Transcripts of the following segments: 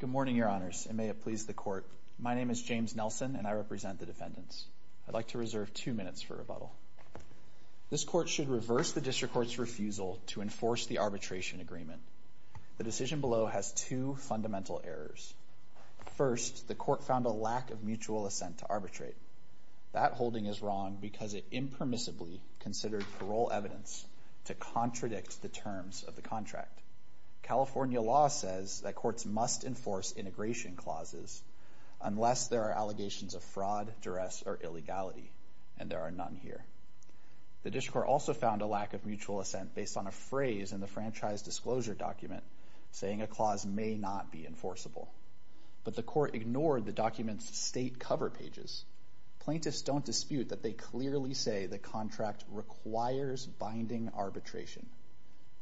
Good morning, Your Honors, and may it please the Court. My name is James Nelson, and I represent the defendants. I'd like to reserve two minutes for rebuttal. This Court should reverse the District Court's refusal to enforce the arbitration agreement. The decision below has two fundamental errors. First, the Court found a lack of mutual assent to arbitrate. That holding is wrong because it impermissibly considered parole evidence to contradict the terms of the contract. California law says that courts must enforce integration clauses unless there are allegations of fraud, duress, or illegality, and there are none here. The District Court also found a lack of mutual assent based on a phrase in the franchise disclosure document saying a clause may not be enforceable, but the Court ignored the document's state cover pages. Plaintiffs don't dispute that they clearly say the contract requires binding arbitration,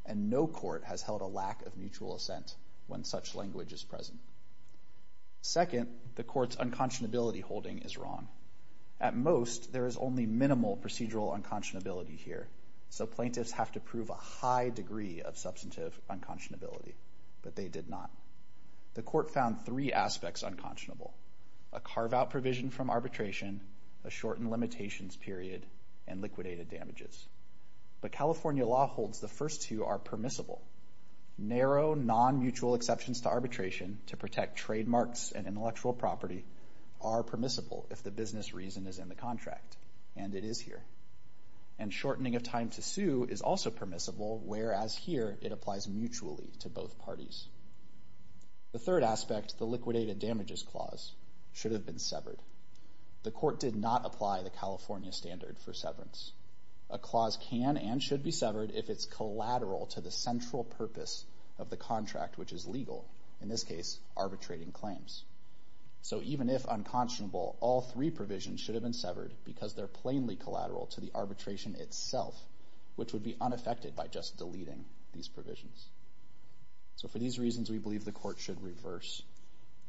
and no court has held a lack of mutual assent when such language is present. Second, the Court's unconscionability holding is wrong. At most, there is only minimal procedural unconscionability here, so plaintiffs have to prove a high degree of substantive unconscionability, but they did not. The Court found three aspects unconscionable—a carve-out provision from arbitration, a shortened limitations period, and liquidated damages. But California law holds the first two are permissible. Narrow, non-mutual exceptions to arbitration to protect trademarks and intellectual property are permissible if the business reason is in the contract, and it is here. And shortening of time to sue is also permissible, whereas here it applies mutually to both parties. The third aspect, the liquidated damages clause, should have been severed. The Court did not apply the California standard for severance. A clause can and should be severed if it's collateral to the central purpose of the contract, which is legal—in this case, arbitrating claims. So even if unconscionable, all three provisions should have been severed because they're plainly collateral to the arbitration itself, which would be unaffected by just deleting these So for these reasons, we believe the Court should reverse.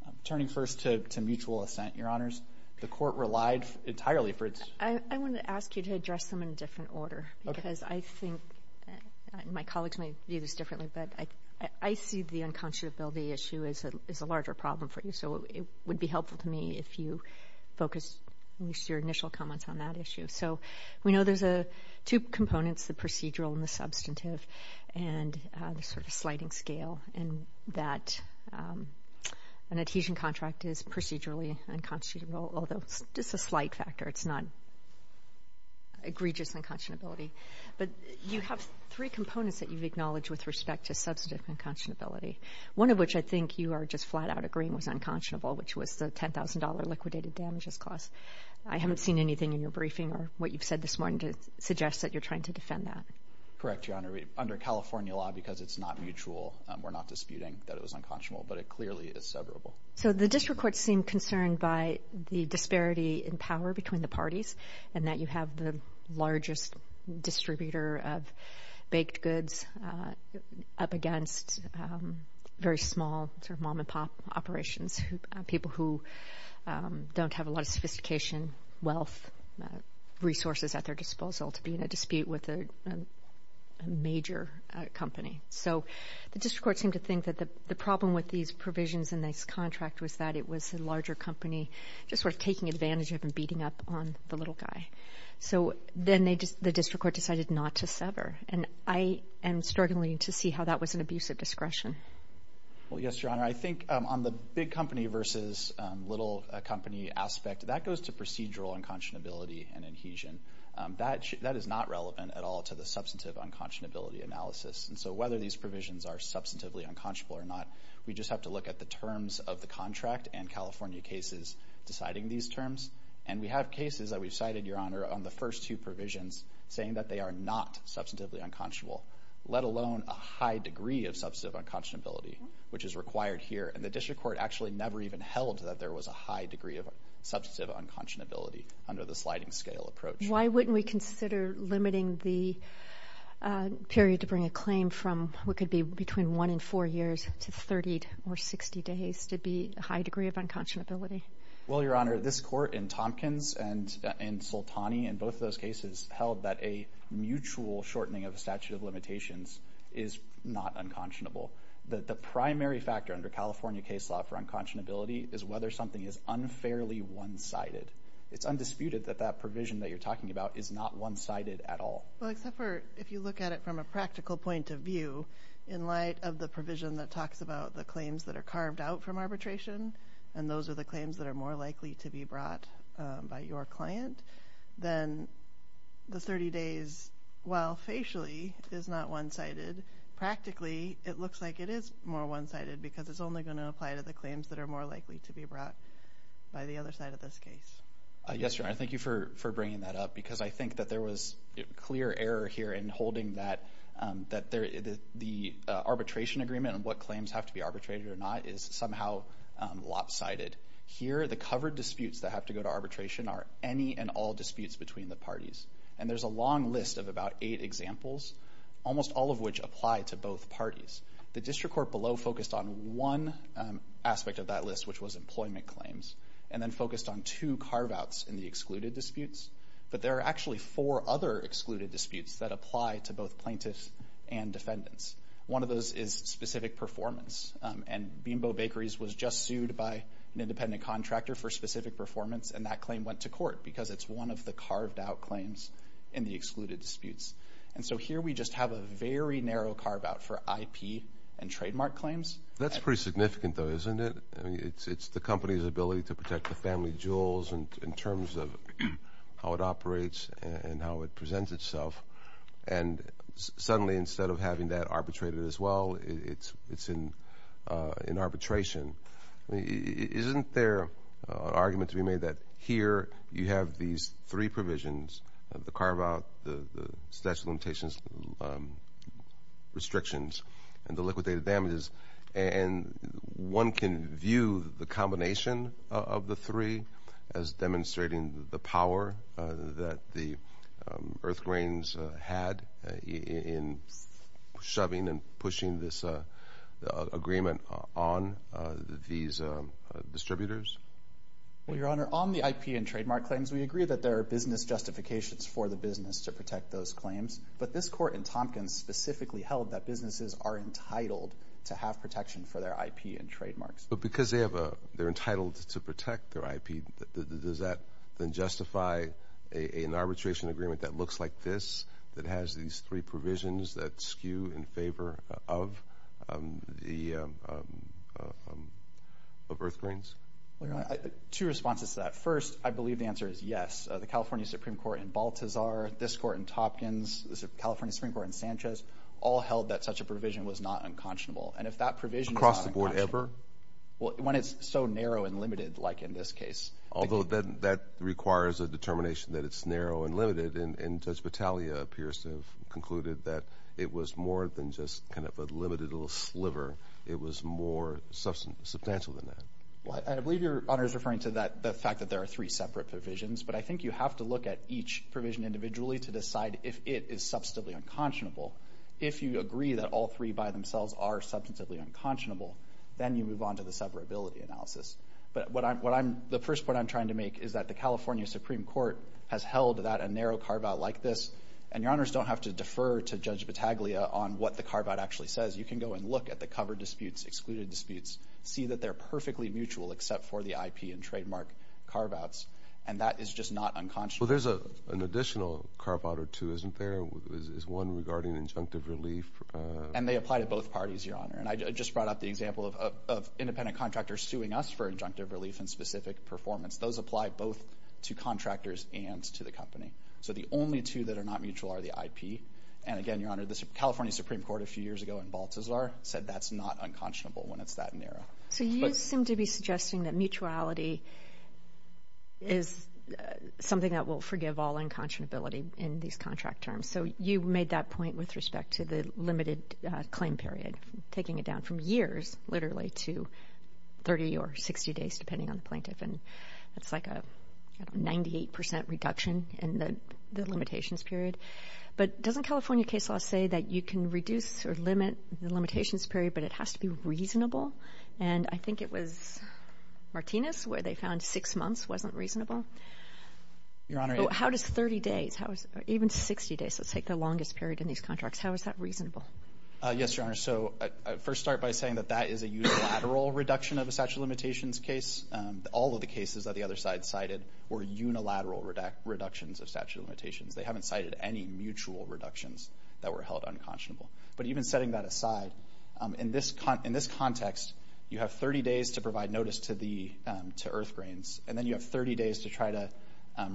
I'm turning first to mutual assent, Your Honors. The Court relied entirely for its— I want to ask you to address them in a different order, because I think—my colleagues might view this differently, but I see the unconscionability issue as a larger problem for you. So it would be helpful to me if you focused at least your initial comments on that issue. So we know there's two components, the procedural and the substantive, and the sort of sliding scale in that an adhesion contract is procedurally unconscionable, although it's just a slight factor. It's not egregious unconscionability. But you have three components that you've acknowledged with respect to substantive unconscionability, one of which I think you are just flat out agreeing was unconscionable, which was the $10,000 liquidated damages clause. I haven't seen anything in your briefing or what you've said this morning to suggest that you're trying to defend that. Correct, Your Honor. Under California law, because it's not mutual, we're not disputing that it was unconscionable, but it clearly is severable. So the district courts seem concerned by the disparity in power between the parties and that you have the largest distributor of baked goods up against very small sort of mom-and-pop operations, people who don't have a lot of sophistication, wealth, resources at their disposal to be in a dispute with a major company. So the district courts seem to think that the problem with these provisions in this contract was that it was a larger company just sort of taking advantage of and beating up on the little guy. So then the district court decided not to sever. And I am struggling to see how that was an abuse of discretion. Well, yes, Your Honor. I think on the big company versus little company aspect, that goes to procedural unconscionability and adhesion. That is not relevant at all to the substantive unconscionability analysis. And so whether these provisions are substantively unconscionable or not, we just have to look at the terms of the contract and California cases deciding these terms. And we have cases that we've cited, Your Honor, on the first two provisions saying that they are not substantively unconscionable, let alone a high degree of substantive unconscionability, which is required here. And the district court actually never even held that there was a high degree of substantive unconscionability under the sliding scale approach. Why wouldn't we consider limiting the period to bring a claim from what could be between one and four years to 30 or 60 days to be a high degree of unconscionability? Well, Your Honor, this court in Tompkins and in Soltani and both of those cases held that a mutual shortening of statute of limitations is not unconscionable. The primary factor under California case law for unconscionability is whether something is unfairly one-sided. It's undisputed that that provision that you're talking about is not one-sided at all. Well, except for if you look at it from a practical point of view, in light of the provision that talks about the claims that are carved out from arbitration, and those are the claims that are more likely to be brought by your client, then the 30 days, while facially is not one-sided, practically it looks like it is more one-sided because it's only going to apply to the claims that are more likely to be brought by the other side of this case. Yes, Your Honor, thank you for bringing that up because I think that there was clear error here in holding that the arbitration agreement and what claims have to be arbitrated or not is somehow lopsided. Here the covered disputes that have to go to arbitration are any and all disputes between the parties. And there's a long list of about eight examples, almost all of which apply to both parties. The district court below focused on one aspect of that list, which was employment claims, and then focused on two carve-outs in the excluded disputes. But there are actually four other excluded disputes that apply to both plaintiffs and defendants. One of those is specific performance. And Beanbow Bakeries was just sued by an independent contractor for specific performance, and that claim went to court because it's one of the carved-out claims in the excluded disputes. And so here we just have a very narrow carve-out for IP and trademark claims. That's pretty significant though, isn't it? It's the company's ability to protect the family jewels in terms of how it operates and how it presents itself. And suddenly instead of having that arbitrated as well, it's in arbitration. Isn't there an argument to be made that here you have these three provisions, the carve-out, the statute of limitations restrictions, and the liquidated damages, and one can view the combination of the three as demonstrating the power that the earth grains had in shoving and pushing this agreement on these distributors? Well, Your Honor, on the IP and trademark claims, we agree that there are business justifications for the business to protect those claims. But this court in Tompkins specifically held that businesses are entitled to have protection for their IP and trademarks. But because they're entitled to protect their IP, does that then justify an arbitration agreement that looks like this, that has these three provisions that skew in favor of earth grains? Two responses to that. First, I believe the answer is yes. The California Supreme Court in Baltazar, this court in Tompkins, the California Supreme Court in Sanchez, all held that such a provision was not unconscionable. And if that provision is not unconscionable— Across the board ever? When it's so narrow and limited like in this case. Although that requires a determination that it's narrow and limited, and Judge Battaglia appears to have concluded that it was more than just kind of a limited little sliver. It was more substantial than that. Well, I believe Your Honor is referring to the fact that there are three separate provisions, but I think you have to look at each provision individually to decide if it is substantively unconscionable. If you agree that all three by themselves are substantively unconscionable, then you move on to the separability analysis. But what I'm—the first point I'm trying to make is that the California Supreme Court has held that a narrow carve-out like this, and Your Honors don't have to defer to Judge Battaglia on what the carve-out actually says. You can go and look at the cover disputes, excluded disputes, see that they're perfectly mutual except for the IP and trademark carve-outs, and that is just not unconscionable. Well, there's an additional carve-out or two, isn't there? Is one regarding injunctive relief— And they apply to both parties, Your Honor. And I just brought up the example of independent contractors suing us for injunctive relief in specific performance. Those apply both to contractors and to the company. So the only two that are not mutual are the IP, and again, Your Honor, the California Supreme Court a few years ago in Balthasar said that's not unconscionable when it's that narrow. So you seem to be suggesting that mutuality is something that will forgive all unconscionability in these contract terms. So you made that point with respect to the limited claim period, taking it down from years, literally, to 30 or 60 days, depending on the plaintiff, and that's like a 98 percent reduction in the limitations period. But doesn't California case law say that you can reduce or limit the limitations period, but it has to be reasonable? And I think it was Martinez where they found six months wasn't reasonable. Your Honor, how does 30 days, even 60 days, that's like the longest period in these contracts, how is that reasonable? Yes, Your Honor. So I first start by saying that that is a unilateral reduction of a statute of limitations case. All of the cases that the other side cited were unilateral reductions of statute of limitations. They haven't cited any mutual reductions that were held unconscionable. But even setting that aside, in this context, you have 30 days to provide notice to the to earth grains, and then you have 30 days to try to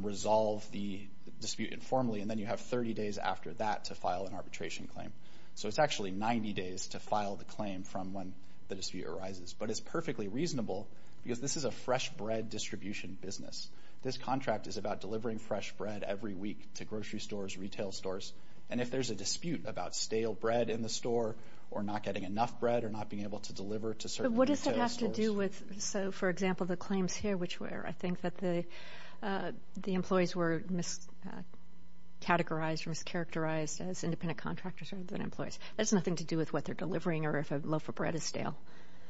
resolve the dispute informally, and then you have 30 days after that to file an arbitration claim. So it's actually 90 days to file the claim from when the dispute arises. But it's perfectly reasonable because this is a fresh bread distribution business. This contract is about delivering fresh bread every week to grocery stores, retail stores, and if there's a dispute about stale bread in the store or not getting enough bread or not being able to deliver to certain retail stores. And what does that have to do with, so for example, the claims here, which were, I think that the employees were miscategorized or mischaracterized as independent contractors rather than employees. That has nothing to do with what they're delivering or if a loaf of bread is stale.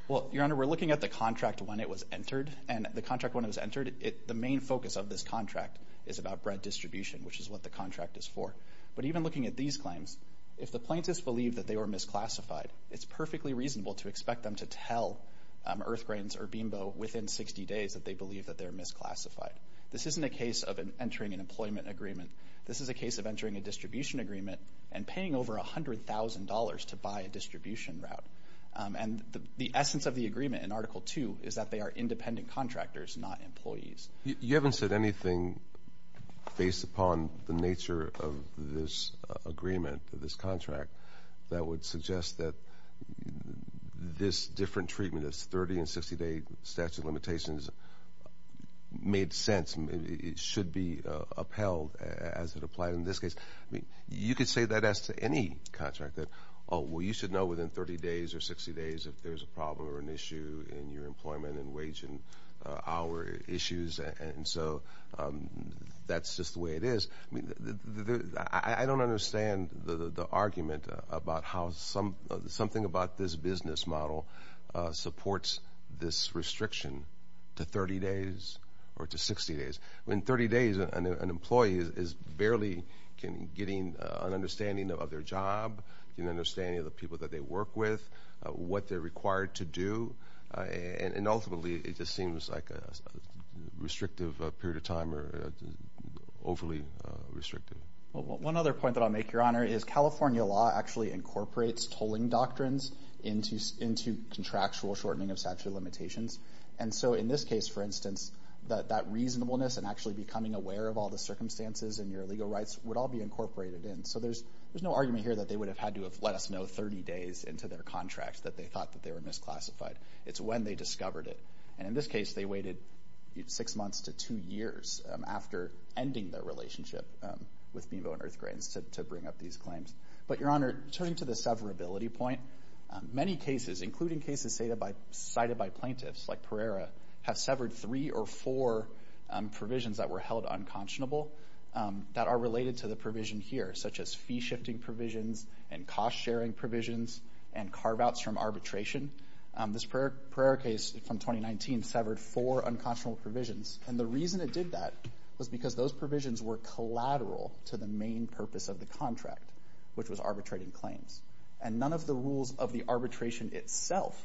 Well, Your Honor, we're looking at the contract when it was entered, and the contract when it was entered, the main focus of this contract is about bread distribution, which is what the contract is for. But even looking at these claims, if the plaintiffs believe that they were misclassified, it's perfectly reasonable to expect them to tell Earthgrains or Bimbo within 60 days that they believe that they're misclassified. This isn't a case of entering an employment agreement. This is a case of entering a distribution agreement and paying over $100,000 to buy a distribution route. And the essence of the agreement in Article 2 is that they are independent contractors, not employees. You haven't said anything based upon the nature of this agreement, this contract, that would suggest that this different treatment, this 30 and 60-day statute of limitations, made sense. It should be upheld as it applied in this case. You could say that as to any contract, that, oh, well, you should know within 30 days or 60 days if there's a problem or an issue in your employment and wage and hour issues. And so that's just the way it is. I mean, I don't understand the argument about how something about this business model supports this restriction to 30 days or to 60 days. I mean, 30 days, an employee is barely getting an understanding of their job, getting an understanding of the people that they work with, what they're required to do. And ultimately, it just seems like a restrictive period of time or overly restrictive. One other point that I'll make, Your Honor, is California law actually incorporates tolling doctrines into contractual shortening of statute of limitations. And so in this case, for instance, that reasonableness and actually becoming aware of all the circumstances and your legal rights would all be incorporated in. So there's no argument here that they would have had to have let us know 30 days into their contract that they thought that they were misclassified. It's when they discovered it. And in this case, they waited six months to two years after ending their relationship with BMO and EarthGrants to bring up these claims. But Your Honor, turning to the severability point, many cases, including cases cited by plaintiffs like Pereira, have severed three or four provisions that were held unconscionable that are related to the provision here, such as fee-shifting provisions and cost-sharing provisions and carve-outs from arbitration. This Pereira case from 2019 severed four unconscionable provisions. And the reason it did that was because those provisions were collateral to the main purpose of the contract, which was arbitrating claims. And none of the rules of the arbitration itself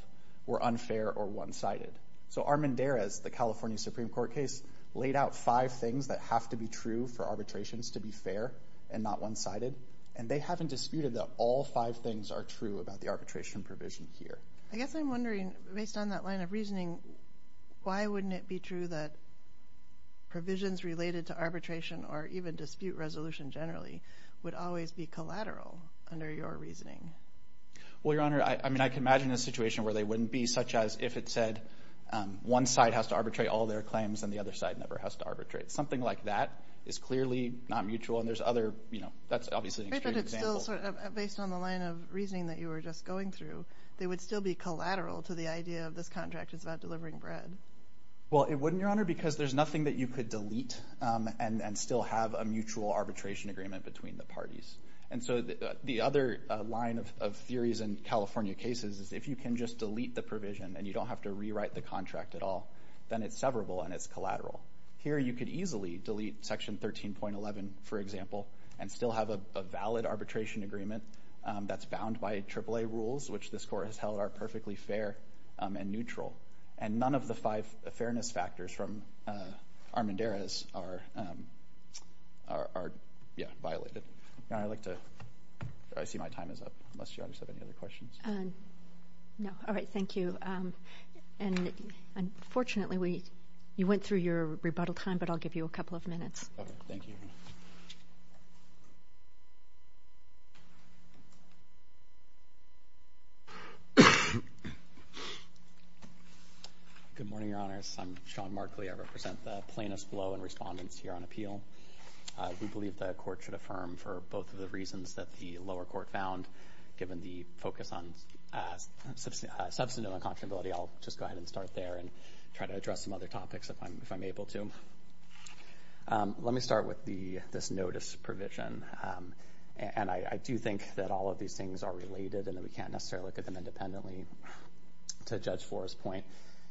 were unfair or one-sided. So Armendariz, the California Supreme Court case, laid out five things that have to be true for arbitrations to be fair and not one-sided. And they haven't disputed that all five things are true about the arbitration provision here. I guess I'm wondering, based on that line of reasoning, why wouldn't it be true that provisions related to arbitration or even dispute resolution generally would always be collateral under your reasoning? Well, Your Honor, I mean, I can imagine a situation where they wouldn't be, such as if it said one side has to arbitrate all their claims and the other side never has to arbitrate. Something like that is clearly not mutual, and there's other, you know, that's obviously an extreme example. Right, but it's still sort of, based on the line of reasoning that you were just going through, they would still be collateral to the idea of this contract is about delivering bread. Well, it wouldn't, Your Honor, because there's nothing that you could delete and still have a mutual arbitration agreement between the parties. And so the other line of theories in California cases is if you can just delete the provision and you don't have to rewrite the contract at all, then it's severable and it's collateral. Here, you could easily delete Section 13.11, for example, and still have a valid arbitration agreement that's bound by AAA rules, which this Court has held are perfectly fair and neutral. And none of the five fairness factors from Armendariz are, yeah, violated. Your Honor, I'd like to, I see my time is up, unless Your Honor has any other questions. No. All right, thank you. And unfortunately, we, you went through your rebuttal time, but I'll give you a couple of minutes. Okay, thank you. Good morning, Your Honors. I'm Sean Markley. I represent the plaintiffs below and respondents here on appeal. We believe the Court should affirm for both of the reasons that the lower court found given the focus on substantive unconscionability. I'll just go ahead and start there and try to address some other topics if I'm able to. Let me start with this notice provision. And I do think that all of these things are related and that we can't necessarily look at them independently. To Judge Flores' point,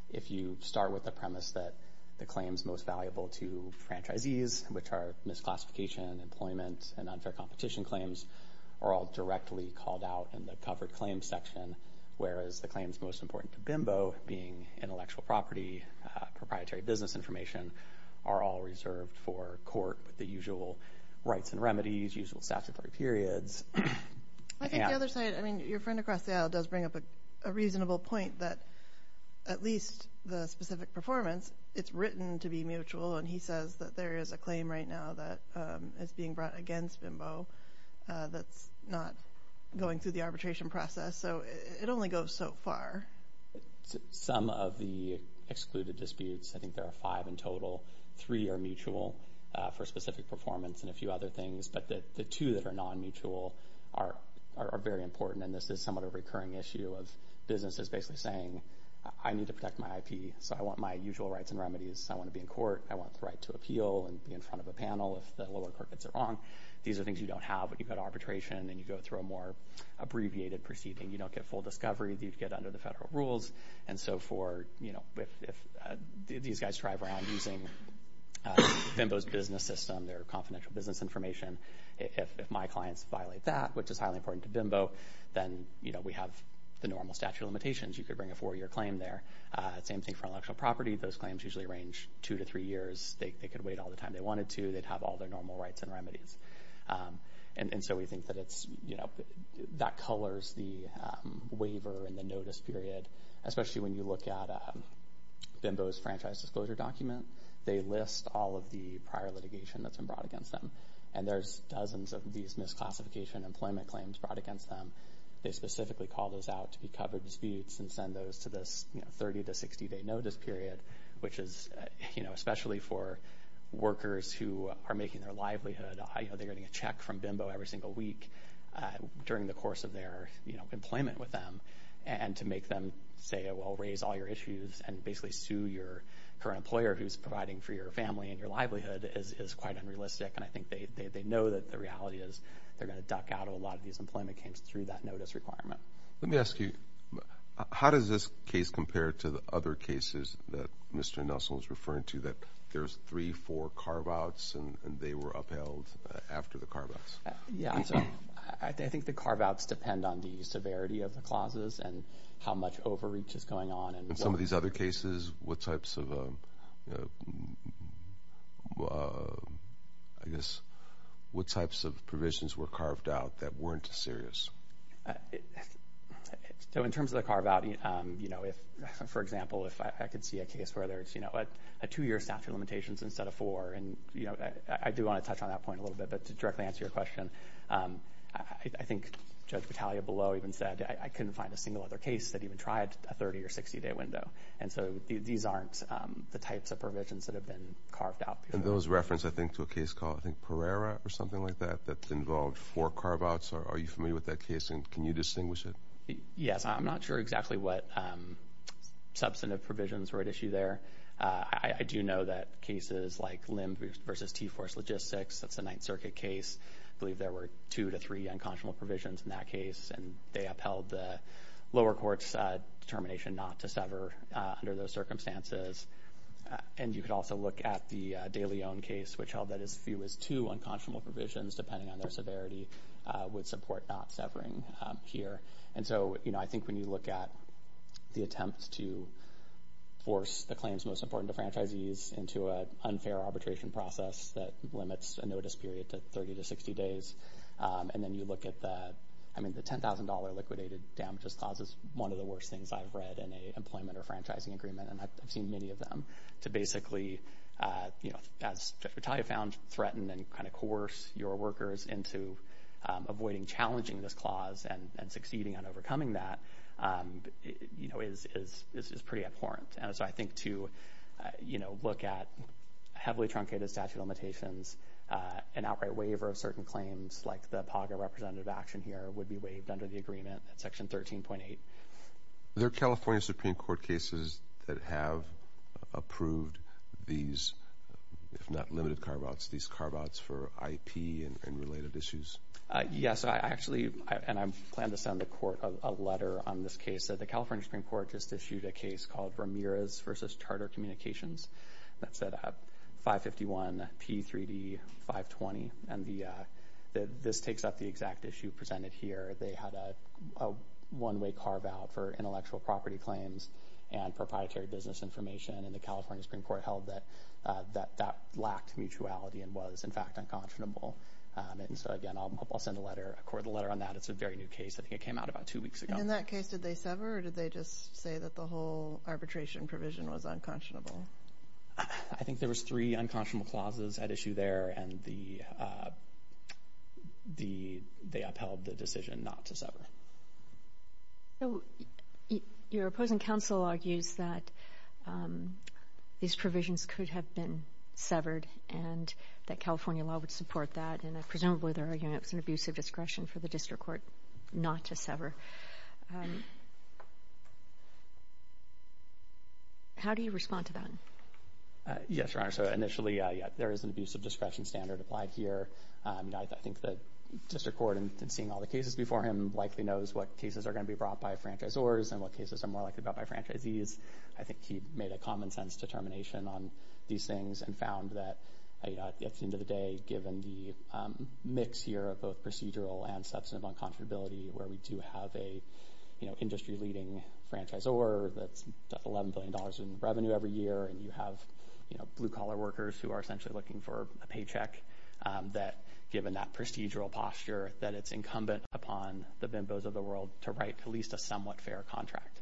if you start with the premise that the claims most valuable to franchisees, which are misclassification, employment, and unfair competition claims, are all directly called out in the covered claims section, whereas the claims most important to BIMBO, being intellectual property, proprietary business information, are all reserved for court with the usual rights and remedies, usual statutory periods. I think the other side, I mean, your friend across the aisle does bring up a reasonable point that at least the specific performance, it's written to be mutual, and he says that there is a claim right now that is being brought against BIMBO that's not going through the arbitration process. So it only goes so far. Some of the excluded disputes, I think there are five in total, three are mutual for specific performance and a few other things, but the two that are non-mutual are very important. And this is somewhat of a recurring issue of businesses basically saying, I need to protect my IP, so I want my usual rights and remedies. I want to be in court. I want the right to appeal and be in front of a panel if the lower court gets it wrong. These are things you don't have when you've got arbitration and you go through a more abbreviated proceeding. You don't get full discovery that you'd get under the federal rules. And so for, you know, if these guys drive around using BIMBO's business system, their confidential business information, if my clients violate that, which is highly important to BIMBO, then, you know, we have the normal statute of limitations. You could bring a four-year claim there. Same thing for intellectual property. Those claims usually range two to three years. They could wait all the time they wanted to. They'd have all their normal rights and remedies. And so we think that it's, you know, that colors the waiver and the notice period, especially when you look at BIMBO's franchise disclosure document. They list all of the prior litigation that's been brought against them, and there's dozens of these misclassification employment claims brought against them. They specifically call those out to be covered disputes and send those to this, you know, 30- to 60-day notice period, which is, you know, especially for workers who are making their livelihood. You know, they're getting a check from BIMBO every single week during the course of their, you know, employment with them. And to make them say, well, raise all your issues and basically sue your current employer who's providing for your family and your livelihood is quite unrealistic. And I think they know that the reality is they're going to duck out of a lot of these employment claims through that notice requirement. Let me ask you, how does this case compare to the other cases that Mr. Nelson was referring to that there's three, four carve-outs and they were upheld after the carve-outs? Yeah, I think the carve-outs depend on the severity of the clauses and how much overreach is going on. In some of these other cases, what types of, I guess, what types of provisions were carved out that weren't as serious? So, in terms of the carve-out, you know, if, for example, if I could see a case where there's, you know, a two-year statute of limitations instead of four and, you know, I do want to touch on that point a little bit. But to directly answer your question, I think Judge Battaglia below even said, I couldn't find a single other case that even tried a 30- or 60-day window. And so, these aren't the types of provisions that have been carved out. And those reference, I think, to a case called, I think, Pereira or something like that that's involved four carve-outs. Are you familiar with that case and can you distinguish it? Yes. I'm not sure exactly what substantive provisions were at issue there. I do know that cases like Lim versus T-Force Logistics, that's a Ninth Circuit case. I believe there were two to three unconscionable provisions in that case and they upheld the lower court's determination not to sever under those circumstances. And you could also look at the De Leon case, which held that as few as two unconscionable provisions, depending on their severity, would support not severing here. And so, you know, I think when you look at the attempt to force the claims most important to franchisees into an unfair arbitration process that limits a notice period to 30 to 60 days, and then you look at the, I mean, the $10,000 liquidated damages clause is one of the worst things I've read in a employment or franchising agreement. And I've seen many of them. To basically, you know, as Retalia found, threaten and kind of coerce your workers into avoiding challenging this clause and succeeding on overcoming that, you know, is pretty abhorrent. And so I think to, you know, look at heavily truncated statute of limitations, an outright waiver of certain claims like the POGA representative action here would be waived under the agreement at Section 13.8. Are there California Supreme Court cases that have approved these, if not limited carve-outs, these carve-outs for IP and related issues? Yes. I actually, and I plan to send the court a letter on this case. The California Supreme Court just issued a case called Ramirez v. Charter Communications that set up 551P3D520. And this takes up the exact issue presented here. They had a one-way carve-out for intellectual property claims and proprietary business information. And the California Supreme Court held that that lacked mutuality and was, in fact, unconscionable. And so, again, I'll send a letter, a court a letter on that. It's a very new case. I think it came out about two weeks ago. And in that case, did they sever or did they just say that the whole arbitration provision was unconscionable? I think there was three unconscionable clauses at issue there. And they upheld the decision not to sever. So your opposing counsel argues that these provisions could have been severed and that California law would support that. And presumably, they're arguing it was an abuse of discretion for the district court not to sever. How do you respond to that? Yes, Your Honor. So initially, there is an abuse of discretion standard applied here. I think the district court, in seeing all the cases before him, likely knows what cases are going to be brought by franchisors and what cases are more likely brought by franchisees. I think he made a common-sense determination on these things and found that, at the end of the day, given the mix here of both procedural and substantive uncomfortability, where we do have an industry-leading franchisor that's $11 billion in revenue every year and you have blue-collar workers who are essentially looking for a paycheck, that given that procedural posture that it's incumbent upon the bimbos of the world to write at least a somewhat fair contract.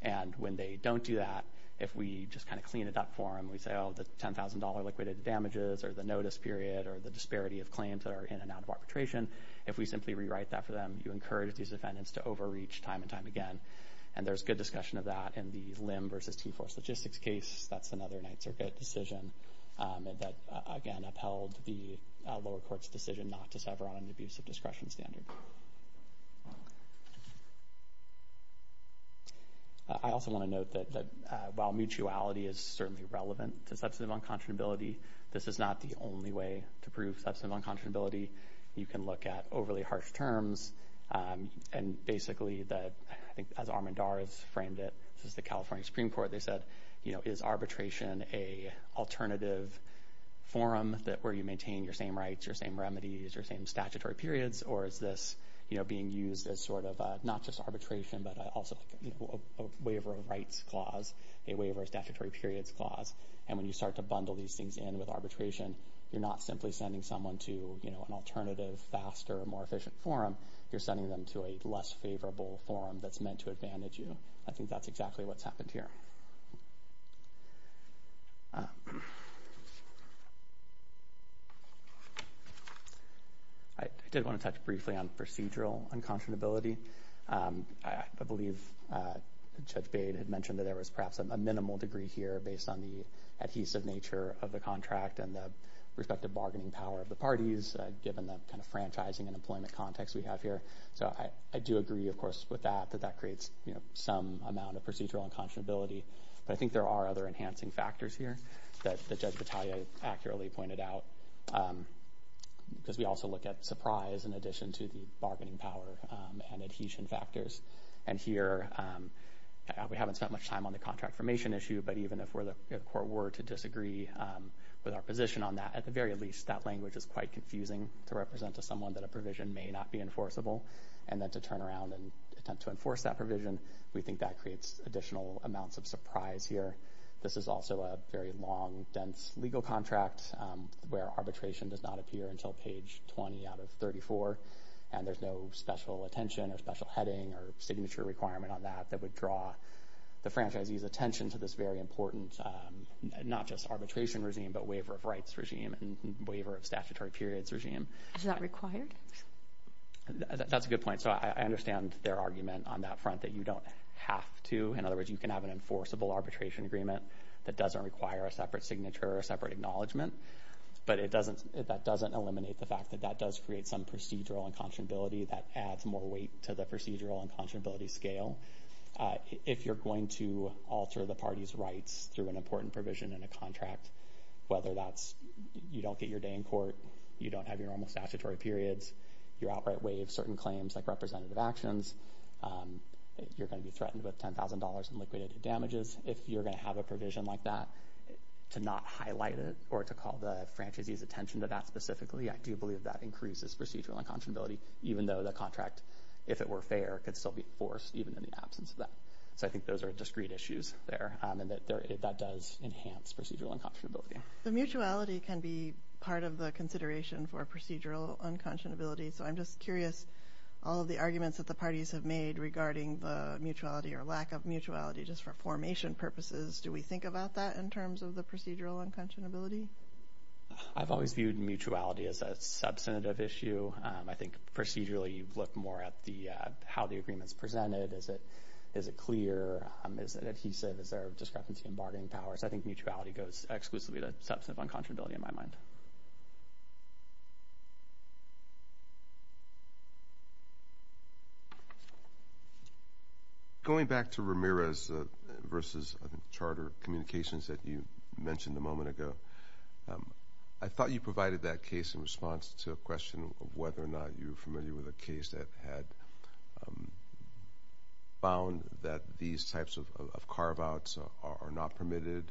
And when they don't do that, if we just kind of clean it up for them, we say, oh, the $10,000 liquidated damages or the notice period or the disparity of claims that are in and out of arbitration, if we simply rewrite that for them, you encourage these defendants to overreach time and time again. And there's good discussion of that in the Lim v. T-Force Logistics case. That's another Ninth Circuit decision that, again, upheld the lower court's decision not to sever on an abusive discretion standard. I also want to note that while mutuality is certainly relevant to substantive unconscionability, this is not the only way to prove substantive unconscionability. You can look at overly harsh terms. And basically, I think as Armendar has framed it, this is the California Supreme Court, they said, is arbitration an alternative forum where you maintain your same rights, your same remedies, your same statutory periods, or is this being used as sort of not just arbitration, but also a waiver of rights clause, a waiver of statutory periods clause? And when you start to bundle these things in with arbitration, you're not simply sending someone to an alternative, faster, more efficient forum. You're sending them to a less favorable forum that's meant to advantage you. I think that's exactly what's happened here. I did want to touch briefly on procedural unconscionability. I believe Judge Bade had mentioned that there was perhaps a minimal degree here based on the adhesive nature of the contract and the respective bargaining power of the parties, given the kind of franchising and employment context we have here. So I do agree, of course, with that, that that creates some amount of procedural unconscionability. But I think there are other enhancing factors here that Judge Battaglia accurately pointed out, because we also look at surprise in addition to the bargaining power and adhesion factors. And here, we haven't spent much time on the contract formation issue, but even if we were to disagree with our position on that, at the very least, that language is quite confusing to represent to someone that a provision may not be enforceable. And then to turn around and attempt to enforce that provision, we think that creates additional amounts of surprise here. This is also a very long, dense legal contract where arbitration does not appear until page 20 out of 34, and there's no special attention or special heading or signature requirement on that that would draw the franchisee's attention to this very important, not just arbitration regime, but waiver of rights regime and waiver of statutory periods regime. Is that required? That's a good point. So I understand their argument on that front that you don't have to. In other words, you can have an enforceable arbitration agreement that doesn't require a separate signature or a separate acknowledgement, but that doesn't eliminate the fact that that does create some procedural unconscionability that adds more weight to the procedural unconscionability scale. If you're going to alter the party's rights through an important provision in a contract, whether that's you don't get your day in court, you don't have your normal statutory periods, you're outright waived certain claims like representative actions, you're going to be threatened with $10,000 in liquidated damages. If you're going to have a provision like that, to not highlight it or to call the franchisee's attention to that specifically, I do believe that increases procedural unconscionability, even though the contract, if it were fair, could still be enforced even in the absence of that. So I think those are discrete issues there, and that does enhance procedural unconscionability. Mutuality can be part of the consideration for procedural unconscionability. So I'm just curious, all of the arguments that the parties have made regarding the mutuality or lack of mutuality just for formation purposes, do we think about that in terms of the procedural unconscionability? I've always viewed mutuality as a substantive issue. I think procedurally you look more at how the agreement is presented. Is it clear? Is it adhesive? Is there discrepancy in bargaining powers? I think mutuality goes exclusively to substantive unconscionability in my mind. Going back to Ramirez versus charter communications that you mentioned a moment ago, I thought you provided that case in response to a question of whether or not you were familiar with a case that had found that these types of carve-outs are not permitted,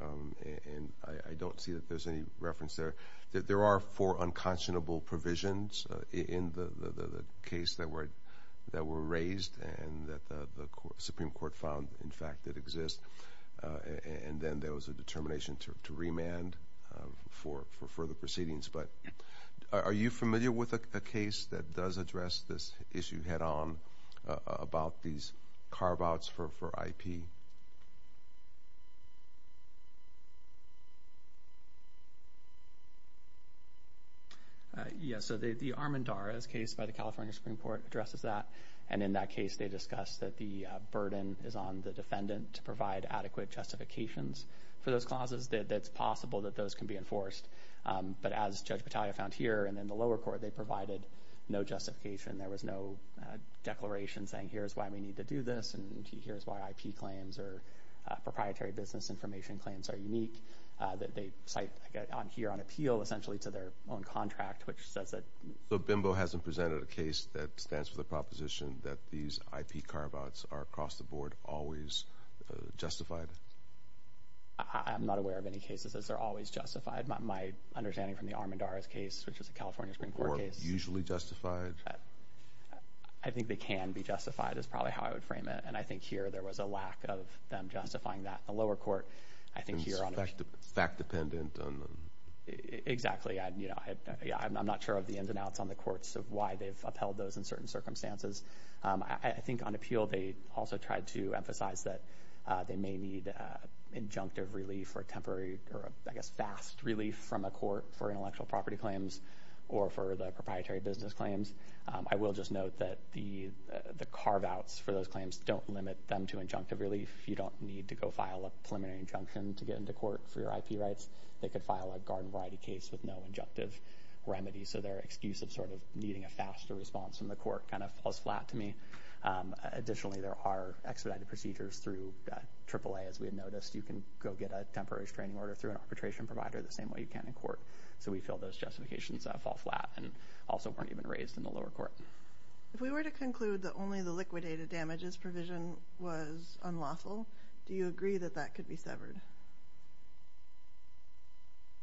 and I don't see that there's any reference there. There are four unconscionable provisions in the case that were raised and that the Supreme Court found, in fact, that exist, and then there was a determination to remand for further proceedings. But are you familiar with a case that does address this issue head-on about these carve-outs for IP? Yes. So the Armendariz case by the California Supreme Court addresses that, and in that case they discussed that the burden is on the defendant to provide adequate justifications for those clauses, that it's possible that those can be enforced. But as Judge Battaglia found here and in the lower court, they provided no justification. There was no declaration saying, here's why we need to do this, and here's why IP claims or proprietary business information claims are unique. They cite here on appeal essentially to their own contract, which says that... Is the assumption that these IP carve-outs are across the board always justified? I'm not aware of any cases as they're always justified. My understanding from the Armendariz case, which is a California Supreme Court case... Or usually justified? I think they can be justified is probably how I would frame it, and I think here there was a lack of them justifying that in the lower court. I think here on the... It's fact-dependent on... Exactly. I'm not sure of the ins and outs on the courts of why they've upheld those in certain circumstances. I think on appeal they also tried to emphasize that they may need injunctive relief or temporary or, I guess, fast relief from a court for intellectual property claims or for the proprietary business claims. I will just note that the carve-outs for those claims don't limit them to injunctive relief. You don't need to go file a preliminary injunction to get into court for your IP rights. They could file a garden variety case with no injunctive remedy, so their excuse of sort of needing a faster response from the court kind of falls flat to me. Additionally, there are expedited procedures through AAA, as we had noticed. You can go get a temporary restraining order through an arbitration provider the same way you can in court. So we feel those justifications fall flat and also weren't even raised in the lower court. If we were to conclude that only the liquidated damages provision was unlawful, do you agree that that could be severed?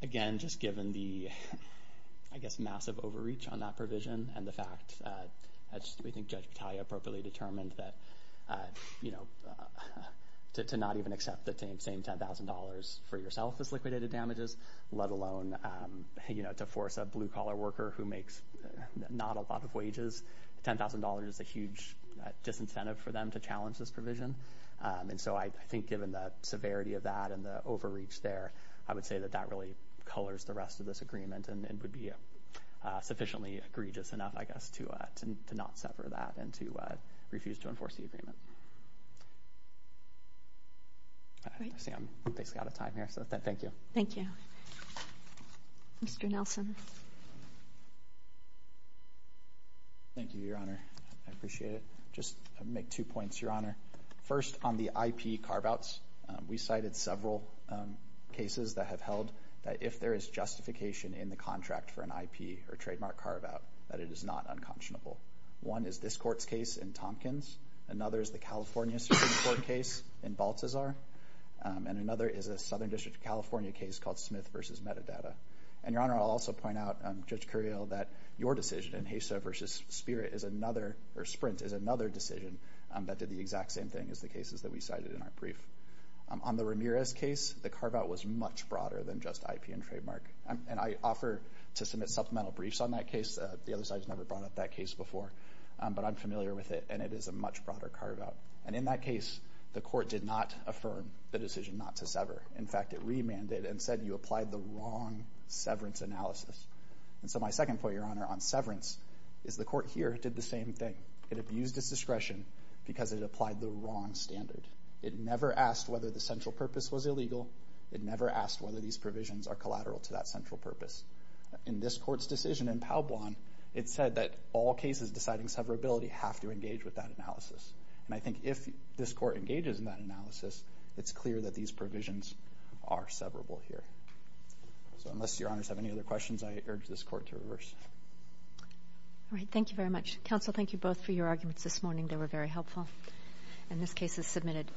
Again, just given the, I guess, massive overreach on that provision and the fact that we think Judge Battaglia appropriately determined that, you know, to not even accept the same $10,000 for yourself as liquidated damages, let alone, you know, to force a blue-collar worker who makes not a lot of wages, $10,000 is a huge disincentive for them to challenge this provision. And so I think given the severity of that and the overreach there, I would say that that really colors the rest of this agreement and would be sufficiently egregious enough, I guess, to not sever that and to refuse to enforce the agreement. I see I'm basically out of time here, so thank you. Thank you. Mr. Nelson. Thank you, Your Honor. I appreciate it. Just to make two points, Your Honor. First, on the IP carve-outs, we cited several cases that have held that if there is justification in the contract for an IP or trademark carve-out, that it is not unconscionable. One is this Court's case in Tompkins. Another is the California Supreme Court case in Balthasar. And another is a Southern District of California case called Smith v. Metadata. And, Your Honor, I'll also point out, Judge Curiel, that your decision in HESA v. Spirit is another or Sprint is another decision that did the exact same thing as the cases that we cited in our brief. On the Ramirez case, the carve-out was much broader than just IP and trademark. And I offer to submit supplemental briefs on that case. The other side has never brought up that case before. But I'm familiar with it, and it is a much broader carve-out. And in that case, the Court did not affirm the decision not to sever. In fact, it remanded and said you applied the wrong severance analysis. And so my second point, Your Honor, on severance is the Court here did the same thing. It abused its discretion because it applied the wrong standard. It never asked whether the central purpose was illegal. It never asked whether these provisions are collateral to that central purpose. In this Court's decision in Pau Blanc, it said that all cases deciding severability have to engage with that analysis. And I think if this Court engages in that analysis, it's clear that these provisions are severable here. So unless Your Honors have any other questions, I urge this Court to reverse. All right. Thank you very much. Counsel, thank you both for your arguments this morning. They were very helpful. And this case is submitted.